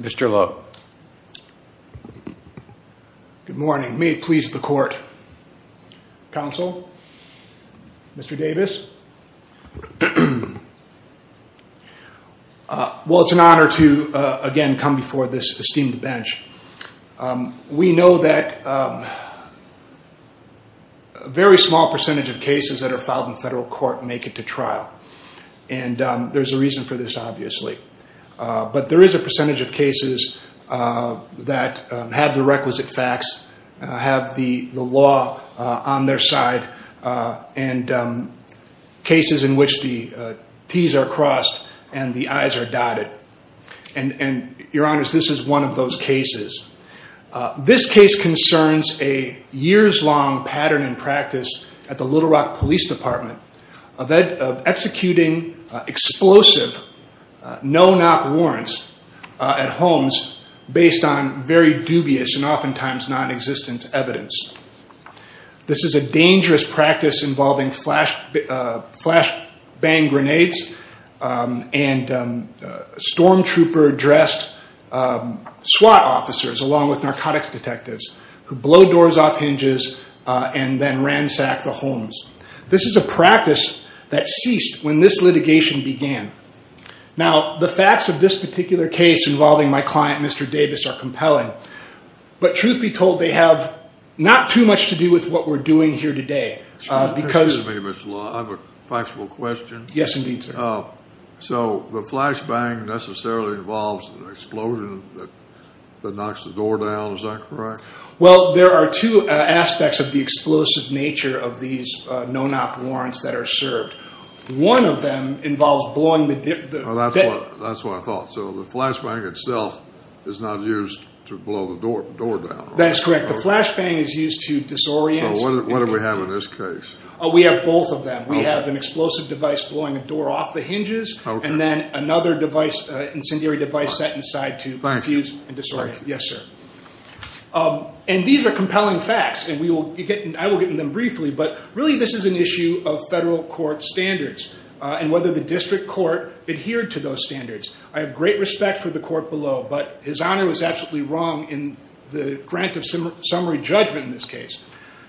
Mr. Lowe. Good morning. May it please the court, counsel, Mr. Davis. Well, it's an honor to again come before this esteemed bench. We know that a very small percentage of cases that are filed in court make it to trial. And there's a reason for this, obviously. But there is a percentage of cases that have the requisite facts, have the law on their side, and cases in which the T's are crossed and the I's are dotted. And your honors, this is one of those cases. This case concerns a years-long pattern and practice at the Little Rock Police Department of executing explosive no-knock warrants at homes based on very dubious and oftentimes non-existent evidence. This is a dangerous practice involving flash bang grenades and storm trooper-dressed SWAT officers along with narcotics detectives who blow doors off hinges and then ransack the homes. This is a practice that ceased when this litigation began. Now, the facts of this particular case involving my client, Mr. Davis, are compelling. But truth be told, they have not too much to do with what we're doing here today. Excuse me, Mr. Lowe. I have a factual question. Yes, indeed, sir. So the flash bang necessarily involves an explosion that knocks the door down, is that correct? Well, there are two aspects of the explosive nature of these no-knock warrants that are served. One of them involves blowing the... That's what I thought. So the flash bang itself is not used to blow the door down. That's correct. The flash bang is used to disorient... So what do we have in this case? We have both of them. We have an explosive device blowing a door off the hinges and then another incendiary device set inside to infuse and disorient. Yes, sir. And these are compelling facts, and I will get into them briefly, but really this is an issue of federal court standards and whether the district court adhered to those standards. I have great respect for the court below, but his honor was absolutely wrong in the grant of summary judgment in this case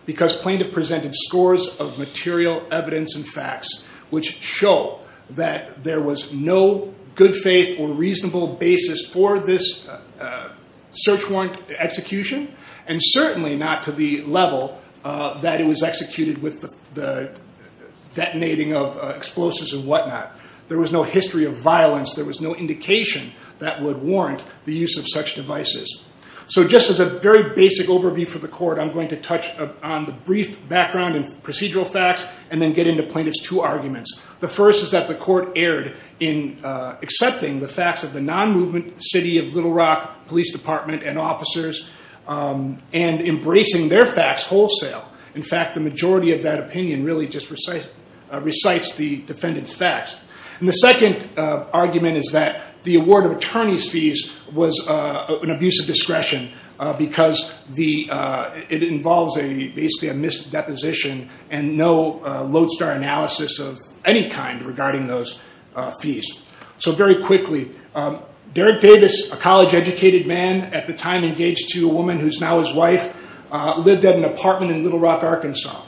because plaintiff presented scores of material evidence and facts which show that there was no good faith or reasonable basis for this search warrant execution, and certainly not to the level that it was executed with the detonating of explosives and whatnot. There was no history of violence. There was no indication that would warrant the use of such devices. So just as a very basic overview for the court, I'm going to touch on the brief background and procedural facts and then get into plaintiff's two arguments. The first is that the court erred in accepting the facts of the non-movement city of Little Rock Police Department and officers and embracing their facts wholesale. In fact, the majority of that opinion really just recites the defendant's facts. And the second argument is that the award of attorney's fees was an abuse of discretion because it involves basically a misdeposition and no lodestar analysis of any kind regarding those fees. So very quickly, Derek Davis, a college educated man, at the time engaged to a woman who's now his wife, lived at an apartment in Little Rock, Arkansas.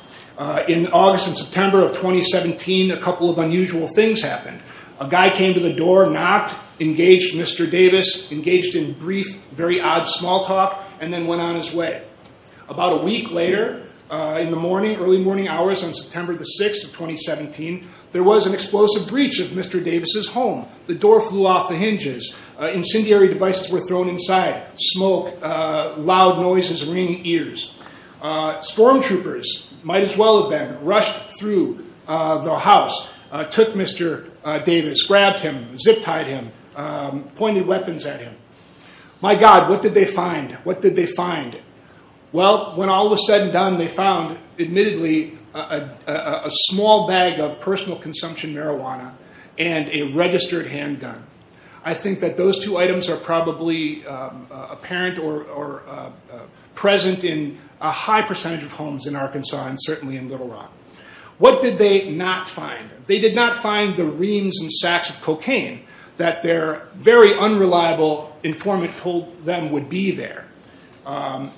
In August and September of 2017, a couple of unusual things happened. A guy came to the door, knocked, engaged Mr. Davis, engaged in brief, very odd small talk, and then went on his way. About a week later in the morning, early morning hours on September the 6th of 2017, there was an explosive breach of Mr. Davis' home. The door flew off the hinges. Incendiary devices were thrown inside. Smoke, loud noises, ringing ears. Stormtroopers, might as well have been, rushed through the house, took Mr. Davis, grabbed him, zip-tied him, pointed weapons at him. My God, what did they find? What did they find? Well, when all was said and done, they found, admittedly, a small bag of personal consumption marijuana and a registered handgun. I think that those two items are probably apparent or present in a high percentage of homes in Arkansas and certainly in Little Rock. What did they not find? They did not find the reams and sacks of cocaine that their very unreliable informant told them would be there.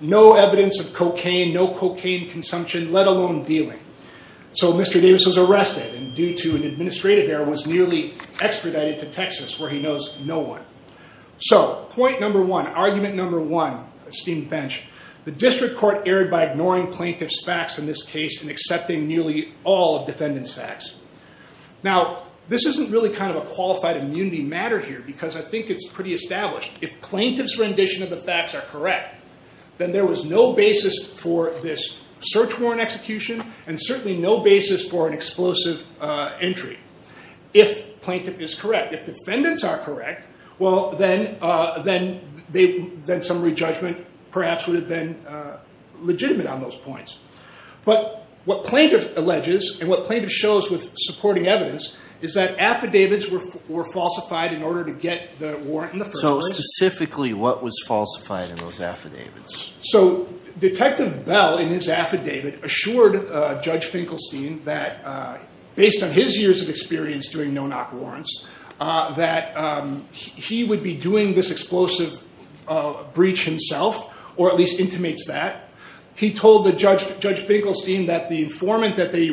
No evidence of cocaine, no cocaine consumption, let alone dealing. So Mr. Davis was arrested and due to an administrative error, was nearly extradited to Texas where he knows no one. So, point number one, argument number one, esteemed bench, the district court erred by ignoring plaintiff's facts in this case and accepting nearly all of defendant's facts. Now, this isn't really kind of a qualified immunity matter here because I think it's pretty established. If plaintiff's rendition of the facts are correct, then there was no basis for this search warrant execution and certainly no basis for an explosive entry. If plaintiff is correct, if defendants are correct, well, then some re-judgment perhaps would have been legitimate on those points. But what plaintiff alleges and what plaintiff shows with supporting evidence is that affidavits were falsified in order to get the warrant in the first place. So, specifically, what was falsified in those affidavits? So, Detective Bell, in his affidavit, assured Judge Finkelstein that based on his years of experience doing no-knock warrants, that he would be doing this explosive breach himself, or at least intimates that. He told Judge Finkelstein that the informant that they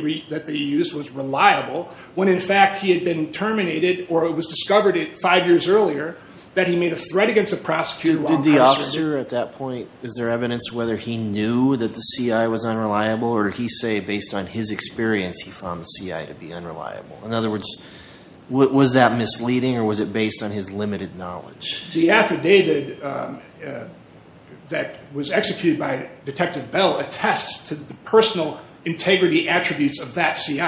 used was reliable when, in fact, he had been terminated or it was discovered five years earlier that he made a threat against a prosecutor while in custody. Did the officer at that point, is there evidence whether he knew that the CI was unreliable or did he say based on his experience, he found the CI to be The affidavit that was executed by Detective Bell attests to the personal integrity attributes of that CI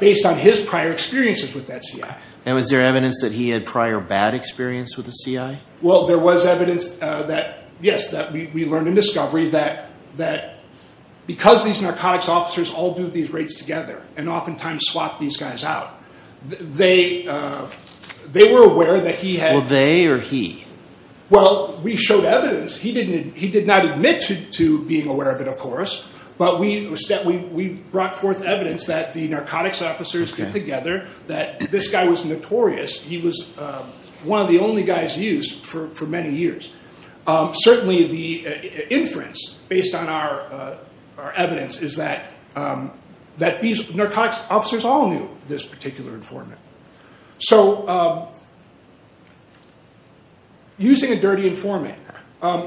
based on his prior experiences with that CI. And was there evidence that he had prior bad experience with the CI? Well, there was evidence that, yes, that we learned in discovery that because these narcotics officers all do these raids together and oftentimes swap these guys out, they were aware that he had Well, they or he? Well, we showed evidence. He did not admit to being aware of it, of course, but we brought forth evidence that the narcotics officers get together that this guy was notorious. He was one of the only guys used for many years. Certainly the inference based on our evidence is that these narcotics officers all knew this particular informant. So using a dirty informant,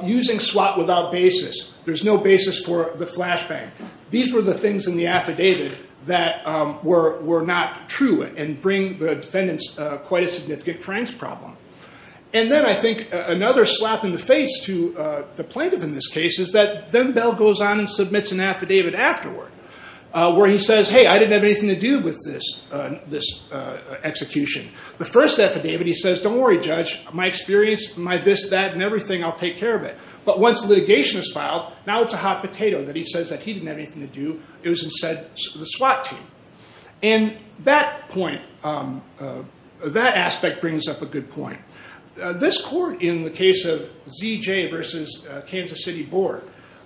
using SWAT without basis, there's no basis for the flashbang. These were the things in the affidavit that were not true and bring the defendants quite a significant crimes problem. And then I think another slap in the face to the plaintiff in this case is that then Bell goes on and submits an affidavit afterward where he says, hey, I didn't have anything to do with this execution. The first affidavit he says, don't worry, Judge, my experience, my this, that, and everything, I'll take care of it. But once the litigation is filed, now it's a hot potato that he says that he didn't have anything to do. It was instead the SWAT team. And that point, that aspect brings up a good point. This court in the case of ZJ versus Kansas City Board,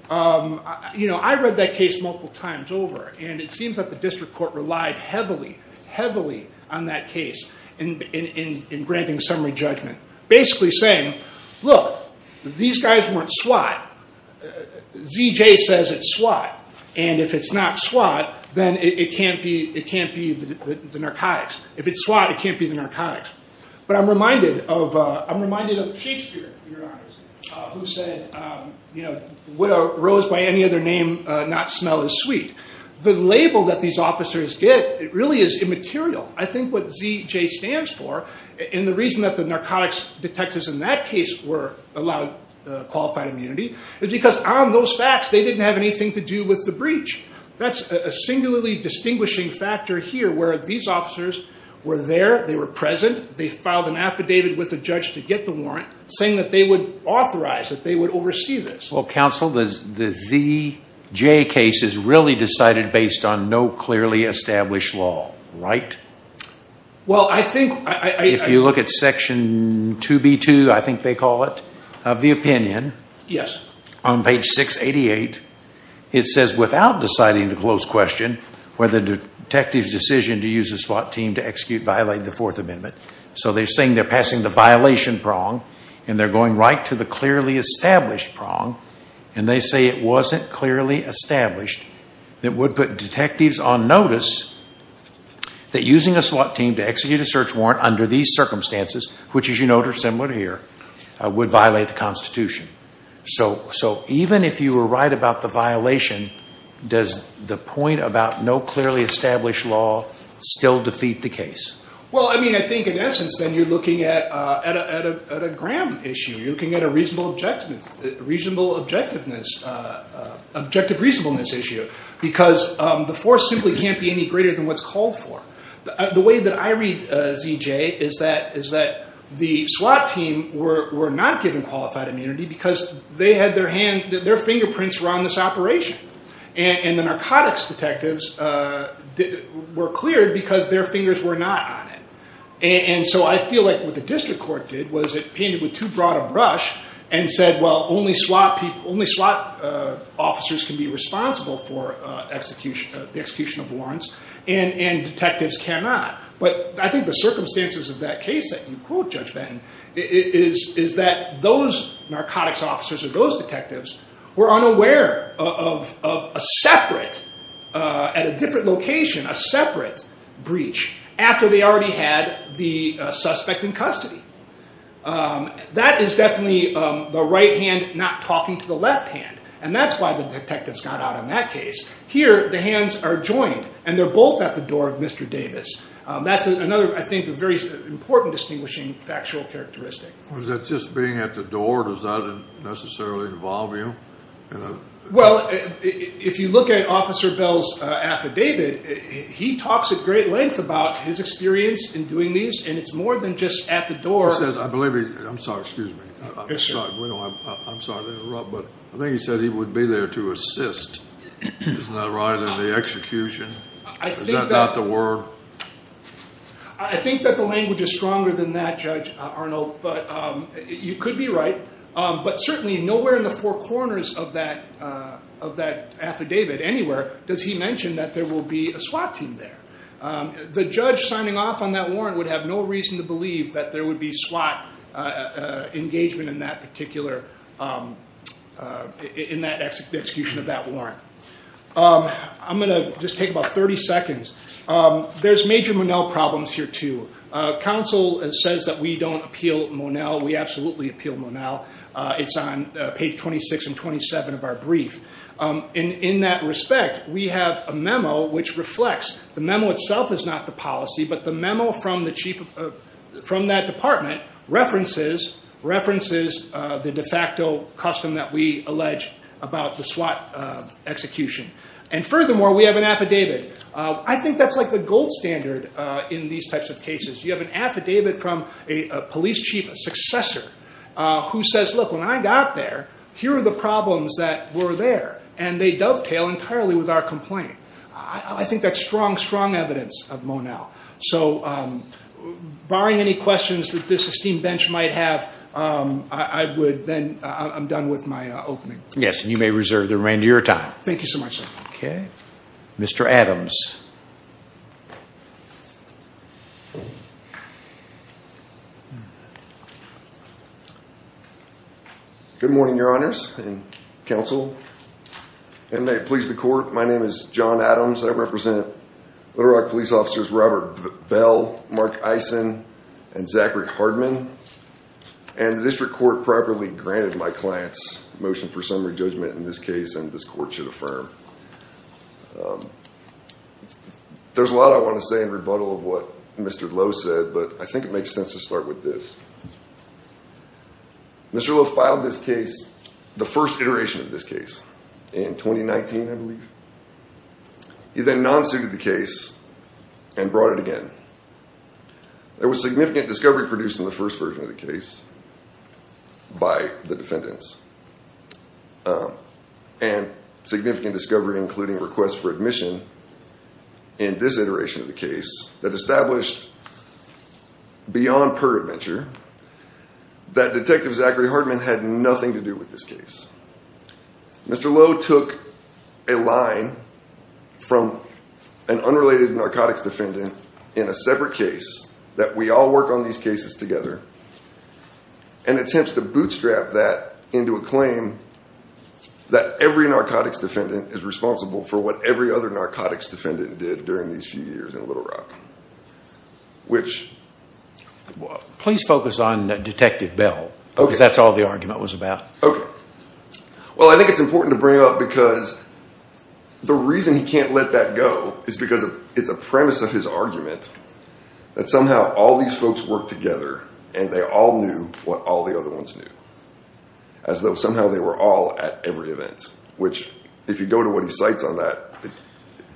I read that case multiple times over. And it seems that the district court relied heavily, heavily on that case in granting summary judgment. Basically saying, look, these guys weren't SWAT, ZJ says it's SWAT. And if it's not SWAT, then it can't be the narcotics. If it's SWAT, it can't be the narcotics. But I'm reminded of Shakespeare, Your Honors, who said, rose by any other name, not smell as sweet. The label that these officers get, it really is immaterial. I think what ZJ stands for, and the reason that the narcotics detectives in that case were allowed qualified immunity, is because on those facts, they didn't have anything to do with the breach. That's a singularly distinguishing factor here, where these officers were there, they were present, they filed an affidavit with a judge to get the warrant, saying that they would authorize, that they would oversee this. Well, counsel, the ZJ case is really decided based on no clearly established law, right? Well, I think... If you look at section 2B2, I think they call it, of the opinion. Yes. On page 688, it says, without deciding the closed question, where the detective's decision to use a SWAT team to execute violated the Fourth Amendment. So they're saying they're passing the violation prong, and they're going right to the clearly established prong, and they say it wasn't clearly established, that would put detectives on notice, that using a SWAT team to execute a search warrant under these circumstances, which as you note are similar here, would violate the Constitution. So even if you were right about the violation, does the point about no clearly established law still defeat the case? Well, I mean, I think in essence, then you're looking at a Graham issue. You're looking at a reasonable objectiveness, objective reasonableness issue, because the force simply can't be any greater than what's called for. The way that I read ZJ is that the SWAT team were not given qualified immunity because they had their fingerprints were on this operation, and the narcotics detectives were cleared because their fingers were not on it. And so I feel like what the district court did was it painted with too broad a brush and said, well, only SWAT officers can be responsible for the execution of warrants, and detectives cannot. But I think the circumstances of that case that you quote, Judge Benton, is that those narcotics officers or those detectives were unaware of a separate, at a different location, a separate breach after they already had the suspect in custody. That is definitely the right hand not talking to the left hand, and that's why the detectives got out in that case. Here, the hands are joined, and they're both at the door of Mr. Davis. That's another, I think, very important distinguishing factual characteristic. Was that just being at the door? Does that necessarily involve you? Well, if you look at Officer Bell's affidavit, he talks at great length about his experience in doing these, and it's more than just at the door. He says, I believe he, I'm sorry, excuse me, I'm sorry to interrupt, but I think he said he would be there to assist. Isn't that right, in the execution? Is that not the word? I think that the language is stronger than that, Judge Arnold, but you could be right. But certainly, nowhere in the four corners of that affidavit, anywhere, does he mention that there will be a SWAT team there. The judge signing off on that warrant would have no reason to believe that there would be SWAT engagement in that particular, in that execution of that warrant. I'm going to just take about 30 seconds. There's major Monell problems here, too. Counsel says that we don't appeal Monell. We absolutely appeal Monell. It's on page 26 and 27 of our brief. In that respect, we have a memo which reflects, the memo itself is not the policy, but the memo from the chief, from that department, references the de facto custom that we allege about the SWAT execution. And furthermore, we have an affidavit. I think that's like the gold standard in these types of cases. You have an affidavit from a police chief, a successor, who says, look, when I got there, here are the problems that were there, and they dovetail entirely with our complaint. I think that's strong, strong evidence of Monell. So barring any questions that this esteemed bench might have, I would then, I'm done with my opening. Yes, and you may reserve the remainder of your time. Thank you so much, sir. Okay. Mr. Adams. Good morning, your honors and counsel. And may it please the court, my name is John Adams. I represent Little Rock Police Officers Robert Bell, Mark Eisen, and Zachary Hardman, and the district court properly granted my client's motion for summary judgment in this case, and this court should affirm. There's a lot I want to say in rebuttal of what Mr. Lowe said, but I think it makes sense to start with this. Mr. Lowe filed this case, the first iteration of this case, in 2019, I believe. He then non-suited the case and brought it again. There was significant discovery produced in the first version of the case by the defendants, and significant discovery including requests for admission in this iteration of the case that established beyond peradventure that Detective Zachary Hardman had nothing to do with this case. Mr. Lowe took a line from an unrelated narcotics defendant in a separate case that we all work on these cases together, and attempts to bootstrap that into a claim that every narcotics defendant is responsible for what every other narcotics defendant did during these few years in Little Rock. Which... Please focus on Detective Bell, because that's all the argument was about. Okay. Well, I think it's important to bring up because the reason he can't let that go is because it's a premise of his argument that somehow all these folks work together and they all knew what all the other ones knew, as though somehow they were all at every event, which if you go to what he cites on that,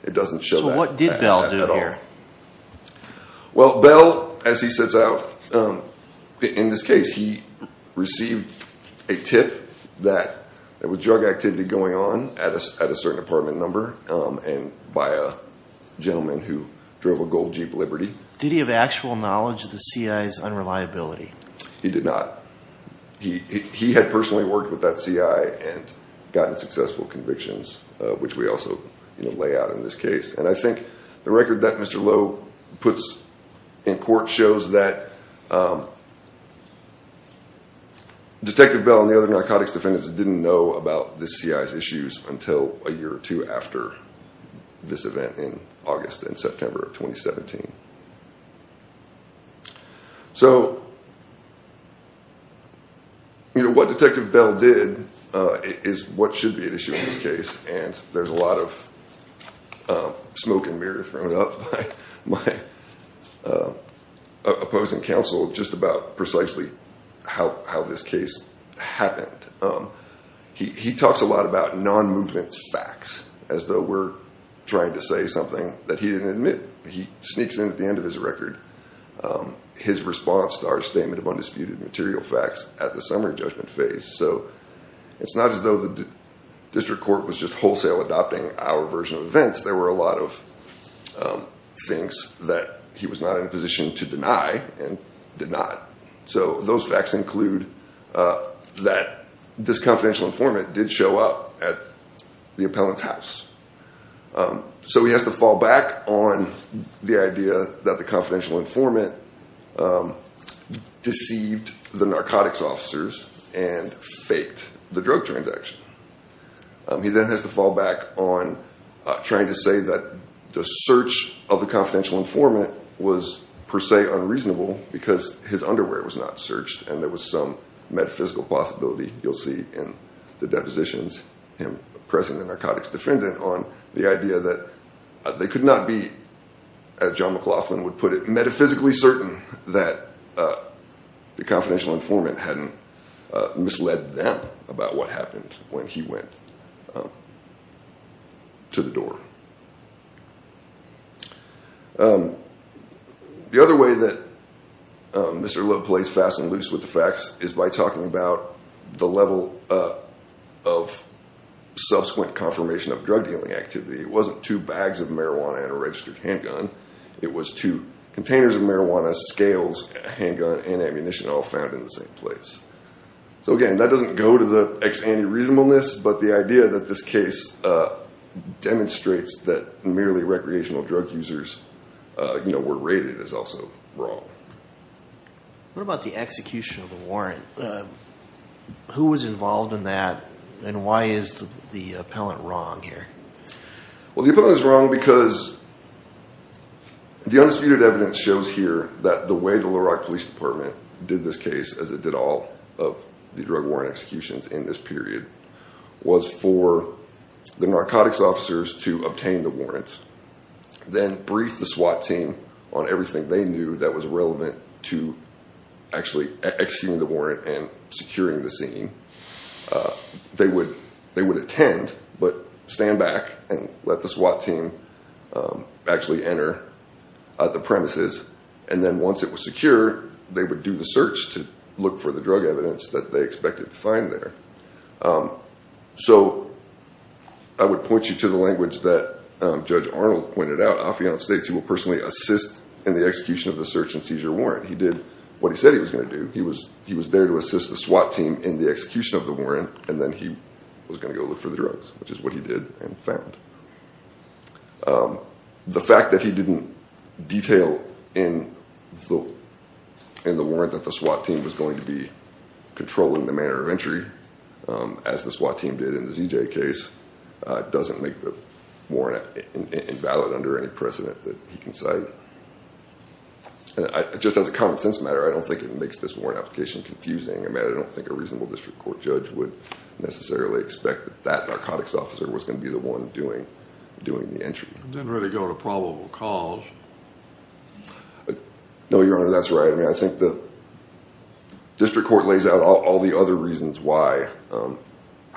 it doesn't show that at all. Well, Bell, as he sets out, in this case, he received a tip that there was drug activity going on at a certain apartment number and by a gentleman who drove a gold Jeep Liberty. Did he have actual knowledge of the CI's unreliability? He did not. He had personally worked with that CI and gotten successful convictions, which we also lay out in this case. And I think the record that Mr. Lowe puts in court shows that Detective Bell and the other narcotics defendants didn't know about the CI's issues until a year or two after this event in August and September of 2017. So, you know, what Detective Bell did is what should be at issue in this case. And there's a lot of smoke and mirror thrown up by my opposing counsel, just about precisely how this case happened. He talks a lot about non-movement facts, as though we're trying to say something that he didn't admit. He sneaks in at the end of his record, his response to our statement of undisputed material facts at the summary judgment phase. So it's not as though the district court was just wholesale adopting our version of events. There were a lot of things that he was not in a position to deny and did not. So those facts include that this confidential informant did show up at the appellant's house. So he has to fall back on the idea that the confidential informant deceived the narcotics officers and faked the drug transaction. He then has to fall back on trying to say that the search of the confidential informant was per se unreasonable because his underwear was not searched. And there was some metaphysical possibility you'll see in the depositions, him pressing the narcotics defendant on the idea that they could not be, as John McLaughlin would put it, metaphysically certain that the confidential informant hadn't misled them about what happened when he went to the door. The other way that Mr. Lowe plays fast and loose with the facts is by talking about the level of subsequent confirmation of drug dealing activity. It wasn't two bags of marijuana and a registered handgun. It was two containers of marijuana, scales, handgun, and ammunition all found in the same place. So again, that doesn't go to the ex ante reasonableness, but the idea that this case demonstrates that merely recreational drug users were raided is also wrong. What about the execution of the warrant? Who was involved in that and why is the appellant wrong here? Well, the appellant is wrong because the undisputed evidence shows here that the way the Little Rock Police Department did this case, as it did all of the drug warrant executions in this period, was for the narcotics officers to obtain the warrants, then brief the SWAT team on everything they knew that was relevant to actually executing the warrant and securing the scene, they would, they would attend, but stand back and let the SWAT team, um, actually enter, uh, the premises and then once it was secure, they would do the search to look for the drug evidence that they expected to find there. Um, so I would point you to the language that, um, judge Arnold pointed out. Affion states, he will personally assist in the execution of the search and seizure warrant. He did what he said he was going to do. He was, he was there to assist the SWAT team in the execution of the warrant. And then he was going to go look for the drugs, which is what he did and found. Um, the fact that he didn't detail in the, in the warrant that the SWAT team was going to be controlling the manner of entry, um, as the SWAT team did in the ZJ case, uh, doesn't make the warrant invalid under any precedent that he can cite. And I, just as a common sense matter, I don't think it makes this warrant application confusing. I mean, I don't think a reasonable district court judge would necessarily expect that that narcotics officer was going to be the one doing, doing the entry. Didn't really go to probable cause. No, your honor. That's right. I mean, I think the district court lays out all the other reasons why, um,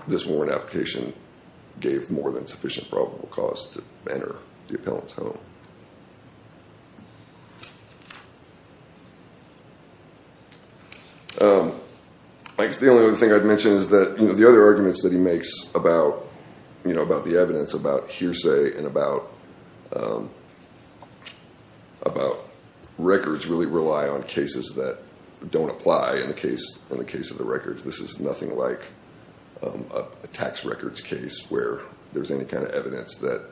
this warrant application gave more than sufficient probable cause to enter the appellant's home. Um, I guess the only other thing I'd mentioned is that, you know, the other arguments that he makes about, you know, about the evidence about hearsay and about, um, about records really rely on cases that don't apply in the case, in the case of the records. This is nothing like, um, a tax records case where there's any kind of evidence that,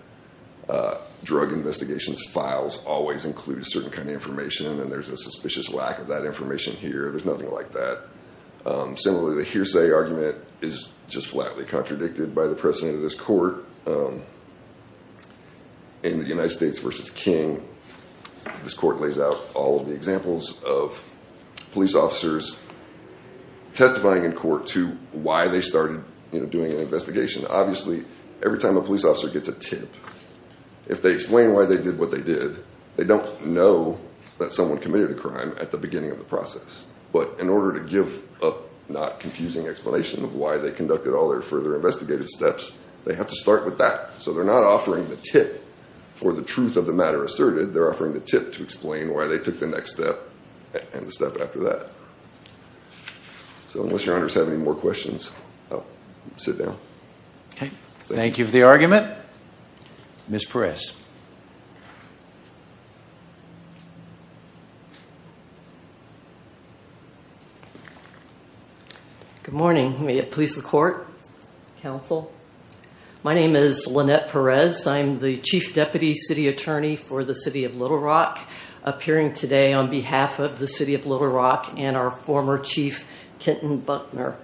uh, drug investigators are not going to be able to get a warrant for files always include a certain kind of information and there's a suspicious lack of that information here. There's nothing like that. Um, similarly, the hearsay argument is just flatly contradicted by the precedent of this court, um, in the United States versus King, this court lays out all of the examples of police officers testifying in court to why they started doing an investigation. Obviously, every time a police officer gets a tip, if they explain why they did what they did, they don't know that someone committed a crime at the beginning of the process. But in order to give a not confusing explanation of why they conducted all their further investigative steps, they have to start with that. So they're not offering the tip for the truth of the matter asserted. They're offering the tip to explain why they took the next step and the step after that. So unless your honors have any more questions, I'll sit down. Okay. Thank you for the argument. Ms. Perez. Good morning. May it please the court, counsel. My name is Lynette Perez. I'm the chief deputy city attorney for the city of Little Rock appearing today on behalf of the city of Little Rock and our former chief Kenton Buckner.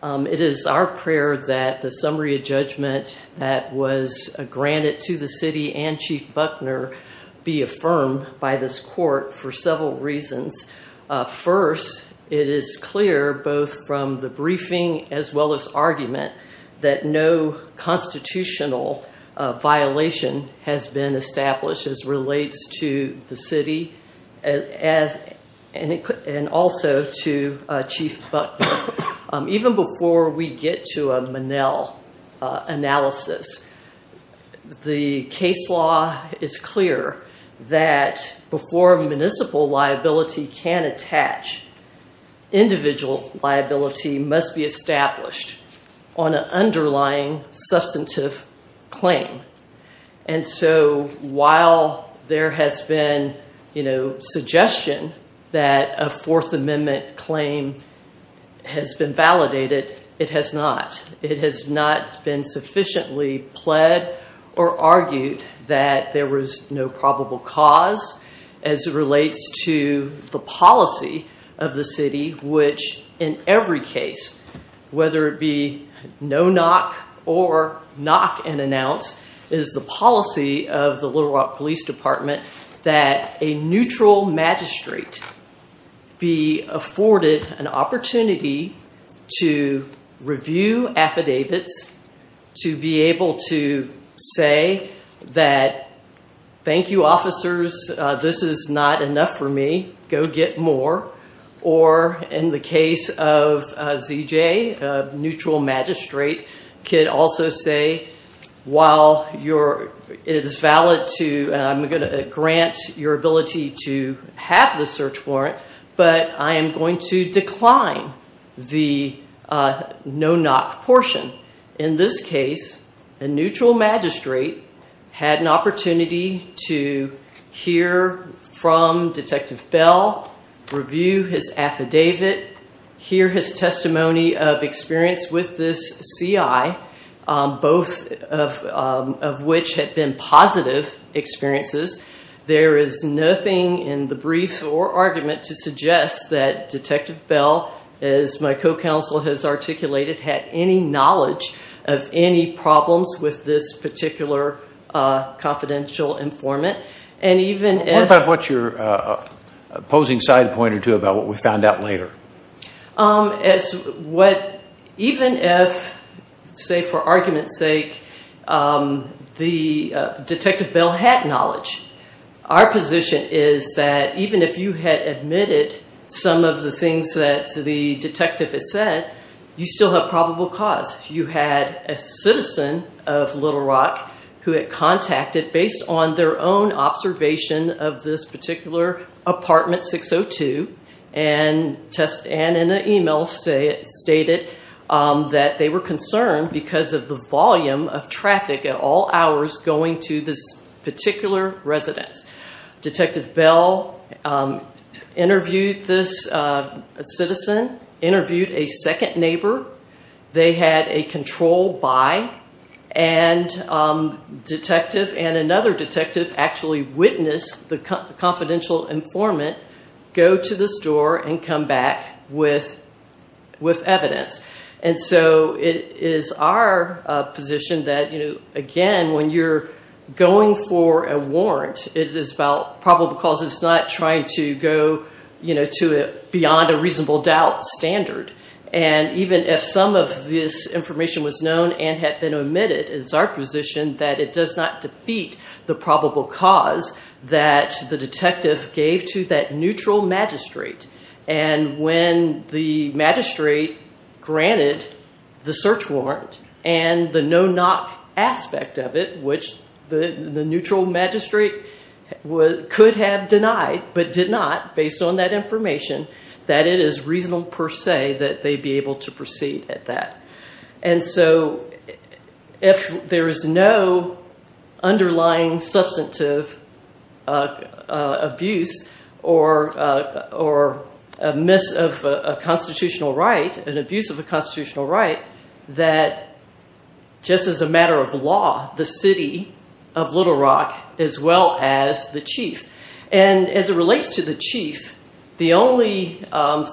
Um, it is our prayer that the summary of judgment that was granted to the city and chief Buckner be affirmed by this court for several reasons. Uh, first it is clear, both from the briefing, as well as argument that no constitutional violation has been established as relates to the city as, and it could, and also to chief Buckner. Um, even before we get to a Manel, uh, analysis, the case law is clear that before municipal liability can attach individual liability must be established on an underlying substantive claim. And so while there has been, you know, suggestion that a fourth amendment claim has been validated, it has not. It has not been sufficiently pled or argued that there was no probable cause as it relates to the policy of the city, which in every case, whether it be no knock or knock and announce is the policy of the Little Rock police department, that a neutral magistrate be afforded an opportunity to review affidavits to be able to say that, thank you, officers. Uh, this is not enough for me go get more. Or in the case of a ZJ, a neutral magistrate could also say, while you're, it is valid to, and I'm going to grant your ability to have the search warrant, but I am going to decline the, uh, no knock portion in this case, a neutral magistrate had an opportunity to hear from detective Bell, review his affidavit, hear his testimony of experience with this CI, um, both of, um, of which had been positive experiences. There is nothing in the brief or argument to suggest that detective Bell is my co-counsel has articulated, had any knowledge of any problems with this particular, uh, confidential informant, and even if, what's your, uh, opposing side point or two about what we found out later? Um, as what, even if, say for argument's sake, um, the, uh, detective Bell had knowledge. Our position is that even if you had admitted some of the things that the detective had said, you still have probable cause. You had a citizen of Little Rock who had contacted based on their own observation of this particular apartment 602 and test and in an email, say it stated, um, that they were concerned because of the volume of traffic at all hours going to this particular residence. Detective Bell, um, interviewed this, uh, citizen interviewed a second neighbor. They had a control by and, um, detective and another detective actually witnessed the confidential informant, go to the store and come back with, with evidence. And so it is our position that, you know, again, when you're going for a warrant, it is about probable cause. It's not trying to go, you know, to beyond a reasonable doubt standard. And even if some of this information was known and had been omitted, it's our position that it does not defeat the probable cause that the detective gave to that neutral magistrate. And when the magistrate granted the search warrant and the no-knock aspect of it, which the neutral magistrate could have denied, but did not based on that information, that it is reasonable per se that they'd be able to proceed at And so if there is no underlying substantive, uh, uh, abuse or, uh, or a miss of a constitutional right, an abuse of a constitutional right, that just as a matter of law, the city of Little Rock as well as the chief, and as it relates to the chief, the only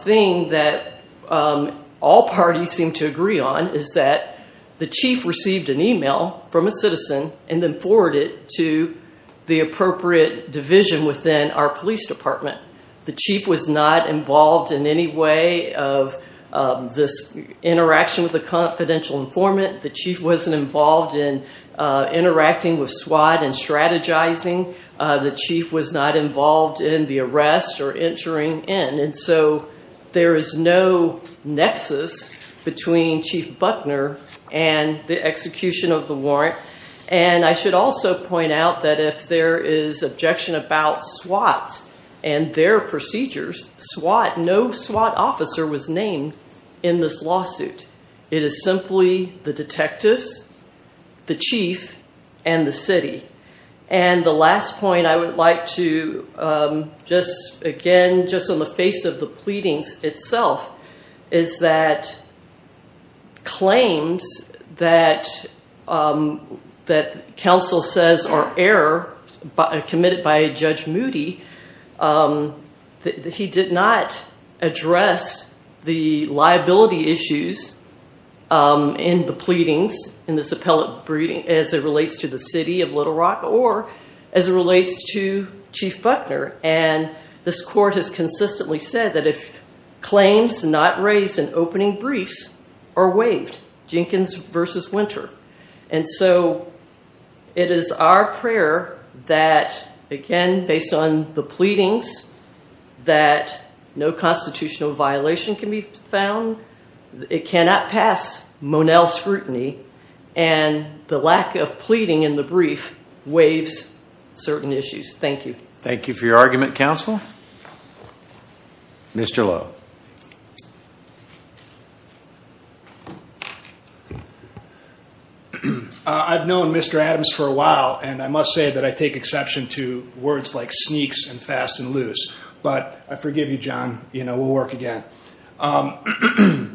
thing that all parties seem to agree on is that the chief received an email from a citizen and then forwarded to the appropriate division within our police department. The chief was not involved in any way of this interaction with a confidential informant. The chief wasn't involved in interacting with SWAT and strategizing. The chief was not involved in the arrest or entering in. And so there is no nexus between chief Buckner and the execution of the warrant. And I should also point out that if there is objection about SWAT and their procedures, SWAT, no SWAT officer was named in this lawsuit. It is simply the detectives, the chief, and the city. And the last point I would like to, um, just again, just on the face of the pleadings itself, is that claims that, um, that counsel says are error committed by Judge Moody, um, that he did not address the liability issues, um, in the pleadings in this appellate briefing as it relates to the city of Little Rock or as it relates to chief Buckner. And this court has consistently said that if claims not raised in opening briefs are waived, Jenkins versus Winter. And so it is our prayer that again, based on the pleadings that no constitutional violation can be found, it cannot pass Monell scrutiny. And the lack of pleading in the brief waives certain issues. Thank you. Thank you for your argument counsel. Mr. I've known Mr. Adams for a while, and I must say that I take exception to words like sneaks and fast and loose. But I forgive you, John, you know, we'll work again. Um,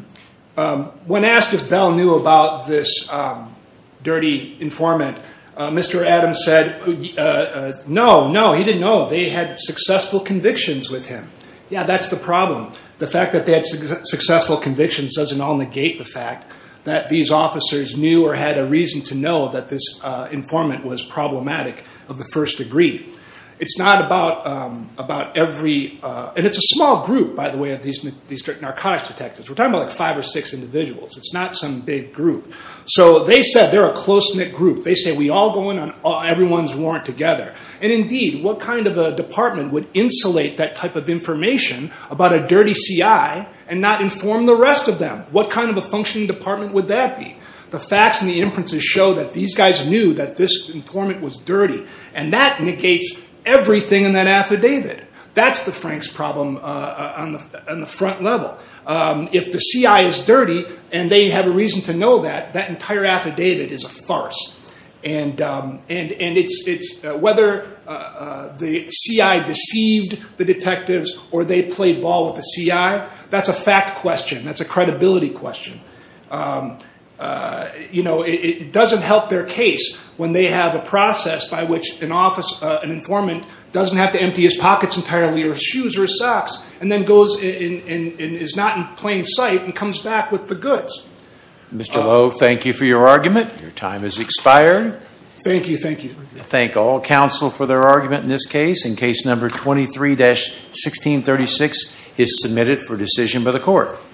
um, when asked if Bell knew about this, um, dirty informant, uh, Mr. Adams said, uh, no, no, he didn't know they had successful convictions with him. Yeah. That's the problem. The fact that they had successful convictions doesn't all negate the fact that these officers knew or had a reason to know that this, uh, informant was problematic of the first degree. It's not about, um, about every, uh, and it's a small group, by the way, of these, these narcotics detectives. We're talking about like five or six individuals. It's not some big group. So they said they're a close knit group. They say we all go in on everyone's warrant together. And indeed, what kind of a department would insulate that type of information about a dirty CI and not inform the rest of them? What kind of a functioning department would that be? The facts and the inferences show that these guys knew that this informant was dirty and that negates everything in that affidavit, that's the Frank's problem, uh, on the, on the front level. Um, if the CI is dirty and they have a reason to know that, that entire affidavit is a farce. And, um, and, and it's, it's, uh, whether, uh, the CI deceived the detectives or they played ball with the CI, that's a fact question. That's a credibility question. Um, uh, you know, it doesn't help their case when they have a process by which an office, uh, an informant doesn't have to empty his pockets entirely or shoes or socks, and then goes in and is not in plain sight and comes back with the goods. Mr. Lowe. Thank you for your argument. Your time is expired. Thank you. Thank you. Thank all counsel for their argument in this case. In case number 23 dash 1636 is submitted for decision by the court.